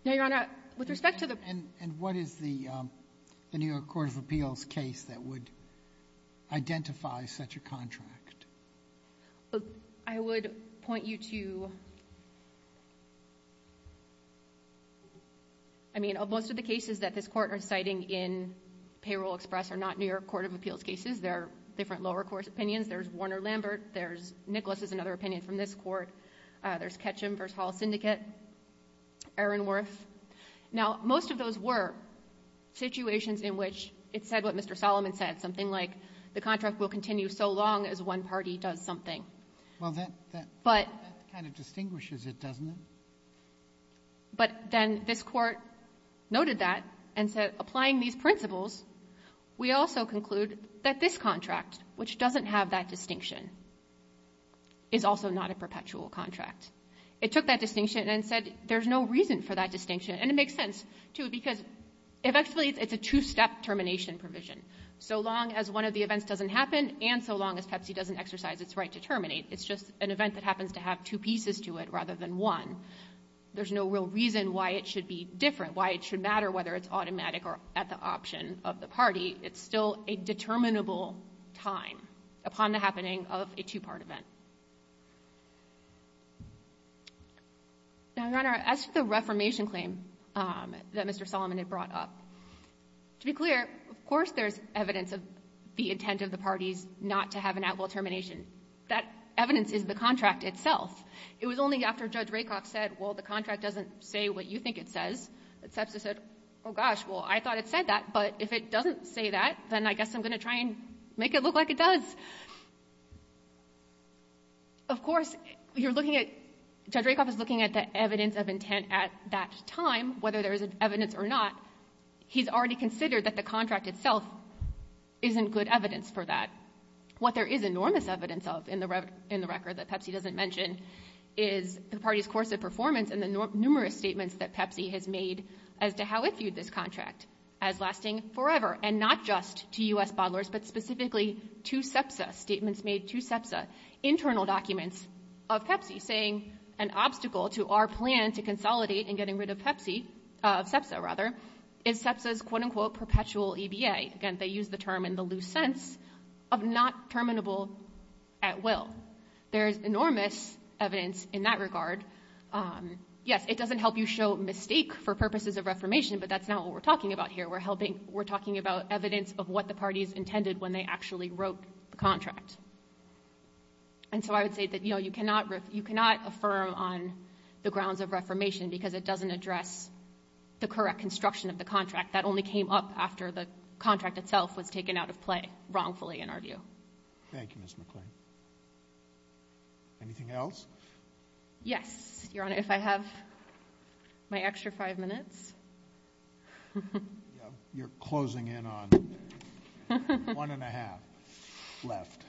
Now, Your Honor, with respect to the And what is the New York Court of Appeals case that would identify such a contract? I would point you to I mean, most of the cases that this Court is citing in Payroll Express are not New York Court of Appeals cases. They're different lower court opinions. There's Warner-Lambert. There's Nicholas is another opinion from this Court. There's Ketchum v. Hall Syndicate. Aronworth. Now, most of those were situations in which it said what Mr. Solomon said, something like the contract will continue so long as one party does something. That kind of distinguishes it, doesn't it? But then this Court noted that and said, applying these principles, we also conclude that this contract, which doesn't have that distinction, is also not a perpetual contract. It took that distinction and said there's no reason for that distinction, and it makes sense because it's a two-step termination provision. So long as one of the events doesn't happen and so long as Pepsi doesn't exercise its right to terminate, it's just an event that happens to have two pieces to it rather than one. There's no real reason why it should be different, why it should matter whether it's automatic or at the option of the party. It's still a determinable time upon the happening of a two-part event. Now, Your Honor, as for the reformation claim, that Mr. Solomon had brought up, to be clear, of course there's evidence of the intent of the parties not to have an at-will termination. That evidence is the contract itself. It was only after Judge Rakoff said, well, the contract doesn't say what you think it says, that Sepsis said, oh gosh, well, I thought it said that, but if it doesn't say that, then I guess I'm going to try and make it look like it does. Of course, you're looking at Judge Rakoff is looking at the evidence of intent at that time, whether there's evidence or not, he's already considered that the contract itself isn't good evidence for that. What there is enormous evidence of in the record that Pepsi doesn't mention is the party's course of performance and the numerous statements that Pepsi has made as to how it viewed this contract as lasting forever, and not just to U.S. bottlers, but specifically to Sepsis, statements made to Sepsis, internal documents of Pepsi saying an obstacle to our plan to consolidate and getting rid of Pepsi, of Sepsis, rather, is Sepsis' quote-unquote perpetual EBA. Again, they use the term in the loose sense of not terminable at will. There's enormous evidence in that regard. Yes, it doesn't help you show mistake for purposes of reformation, but that's not what we're talking about here. We're helping, we're talking about evidence of what the party's intended when they actually wrote the contract. And so I would say that you cannot affirm on the grounds of reformation because it doesn't address the correct construction of the contract that only came up after the contract itself was taken out of play wrongfully in our view. Thank you, Ms. McClain. Anything else? Yes, Your Honor. If I have my extra five minutes. You're closing in on one and a half left.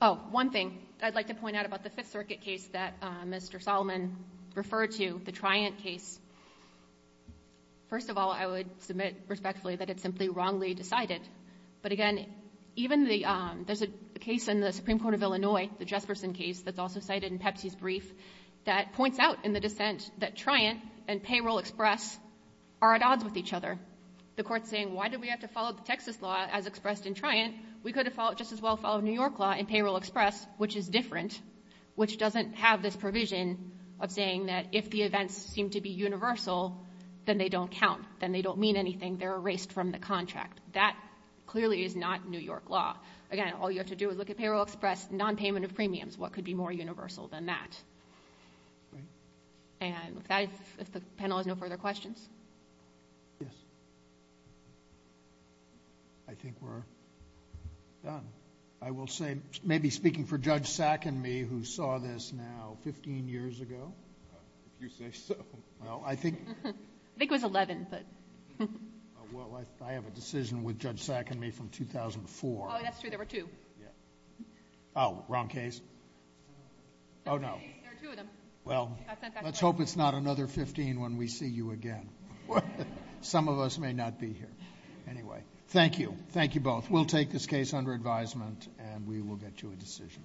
Oh, one thing I'd like to point out about the Fifth Circuit case that Mr. Solomon referred to, the Triant case. First of all, I would submit respectfully that it's simply wrongly decided. But again, even the, there's a case in the Supreme Court of Illinois, the Jesperson case that's also cited in Pepsi's brief that points out in the dissent that Triant and payroll express are at odds with each other. The court's saying, why do we have to follow the Texas law as expressed in Triant? We could have just as well followed New York law in payroll express, which is different, which doesn't have this provision of saying that if the events seem to be universal, then they don't count. Then they don't mean anything. They're erased from the contract. That clearly is not New York law. Again, all you have to do is look at payroll express, non-payment of premiums. What could be more universal than that? And if the panel has no further questions? Yes. I think we're done. I will say, maybe speaking for Judge Sack and me, who saw this now 15 years ago. If you say so. I think it was 11. Well, I have a decision with Judge Sack and me from 2004. Oh, that's true. There were two. Oh, wrong case. Oh, no. Well, let's hope it's not another 15 when we see you again. Some of us may not be here. Anyway, thank you. Thank you both. We'll take this case under advisement and we will get you a decision.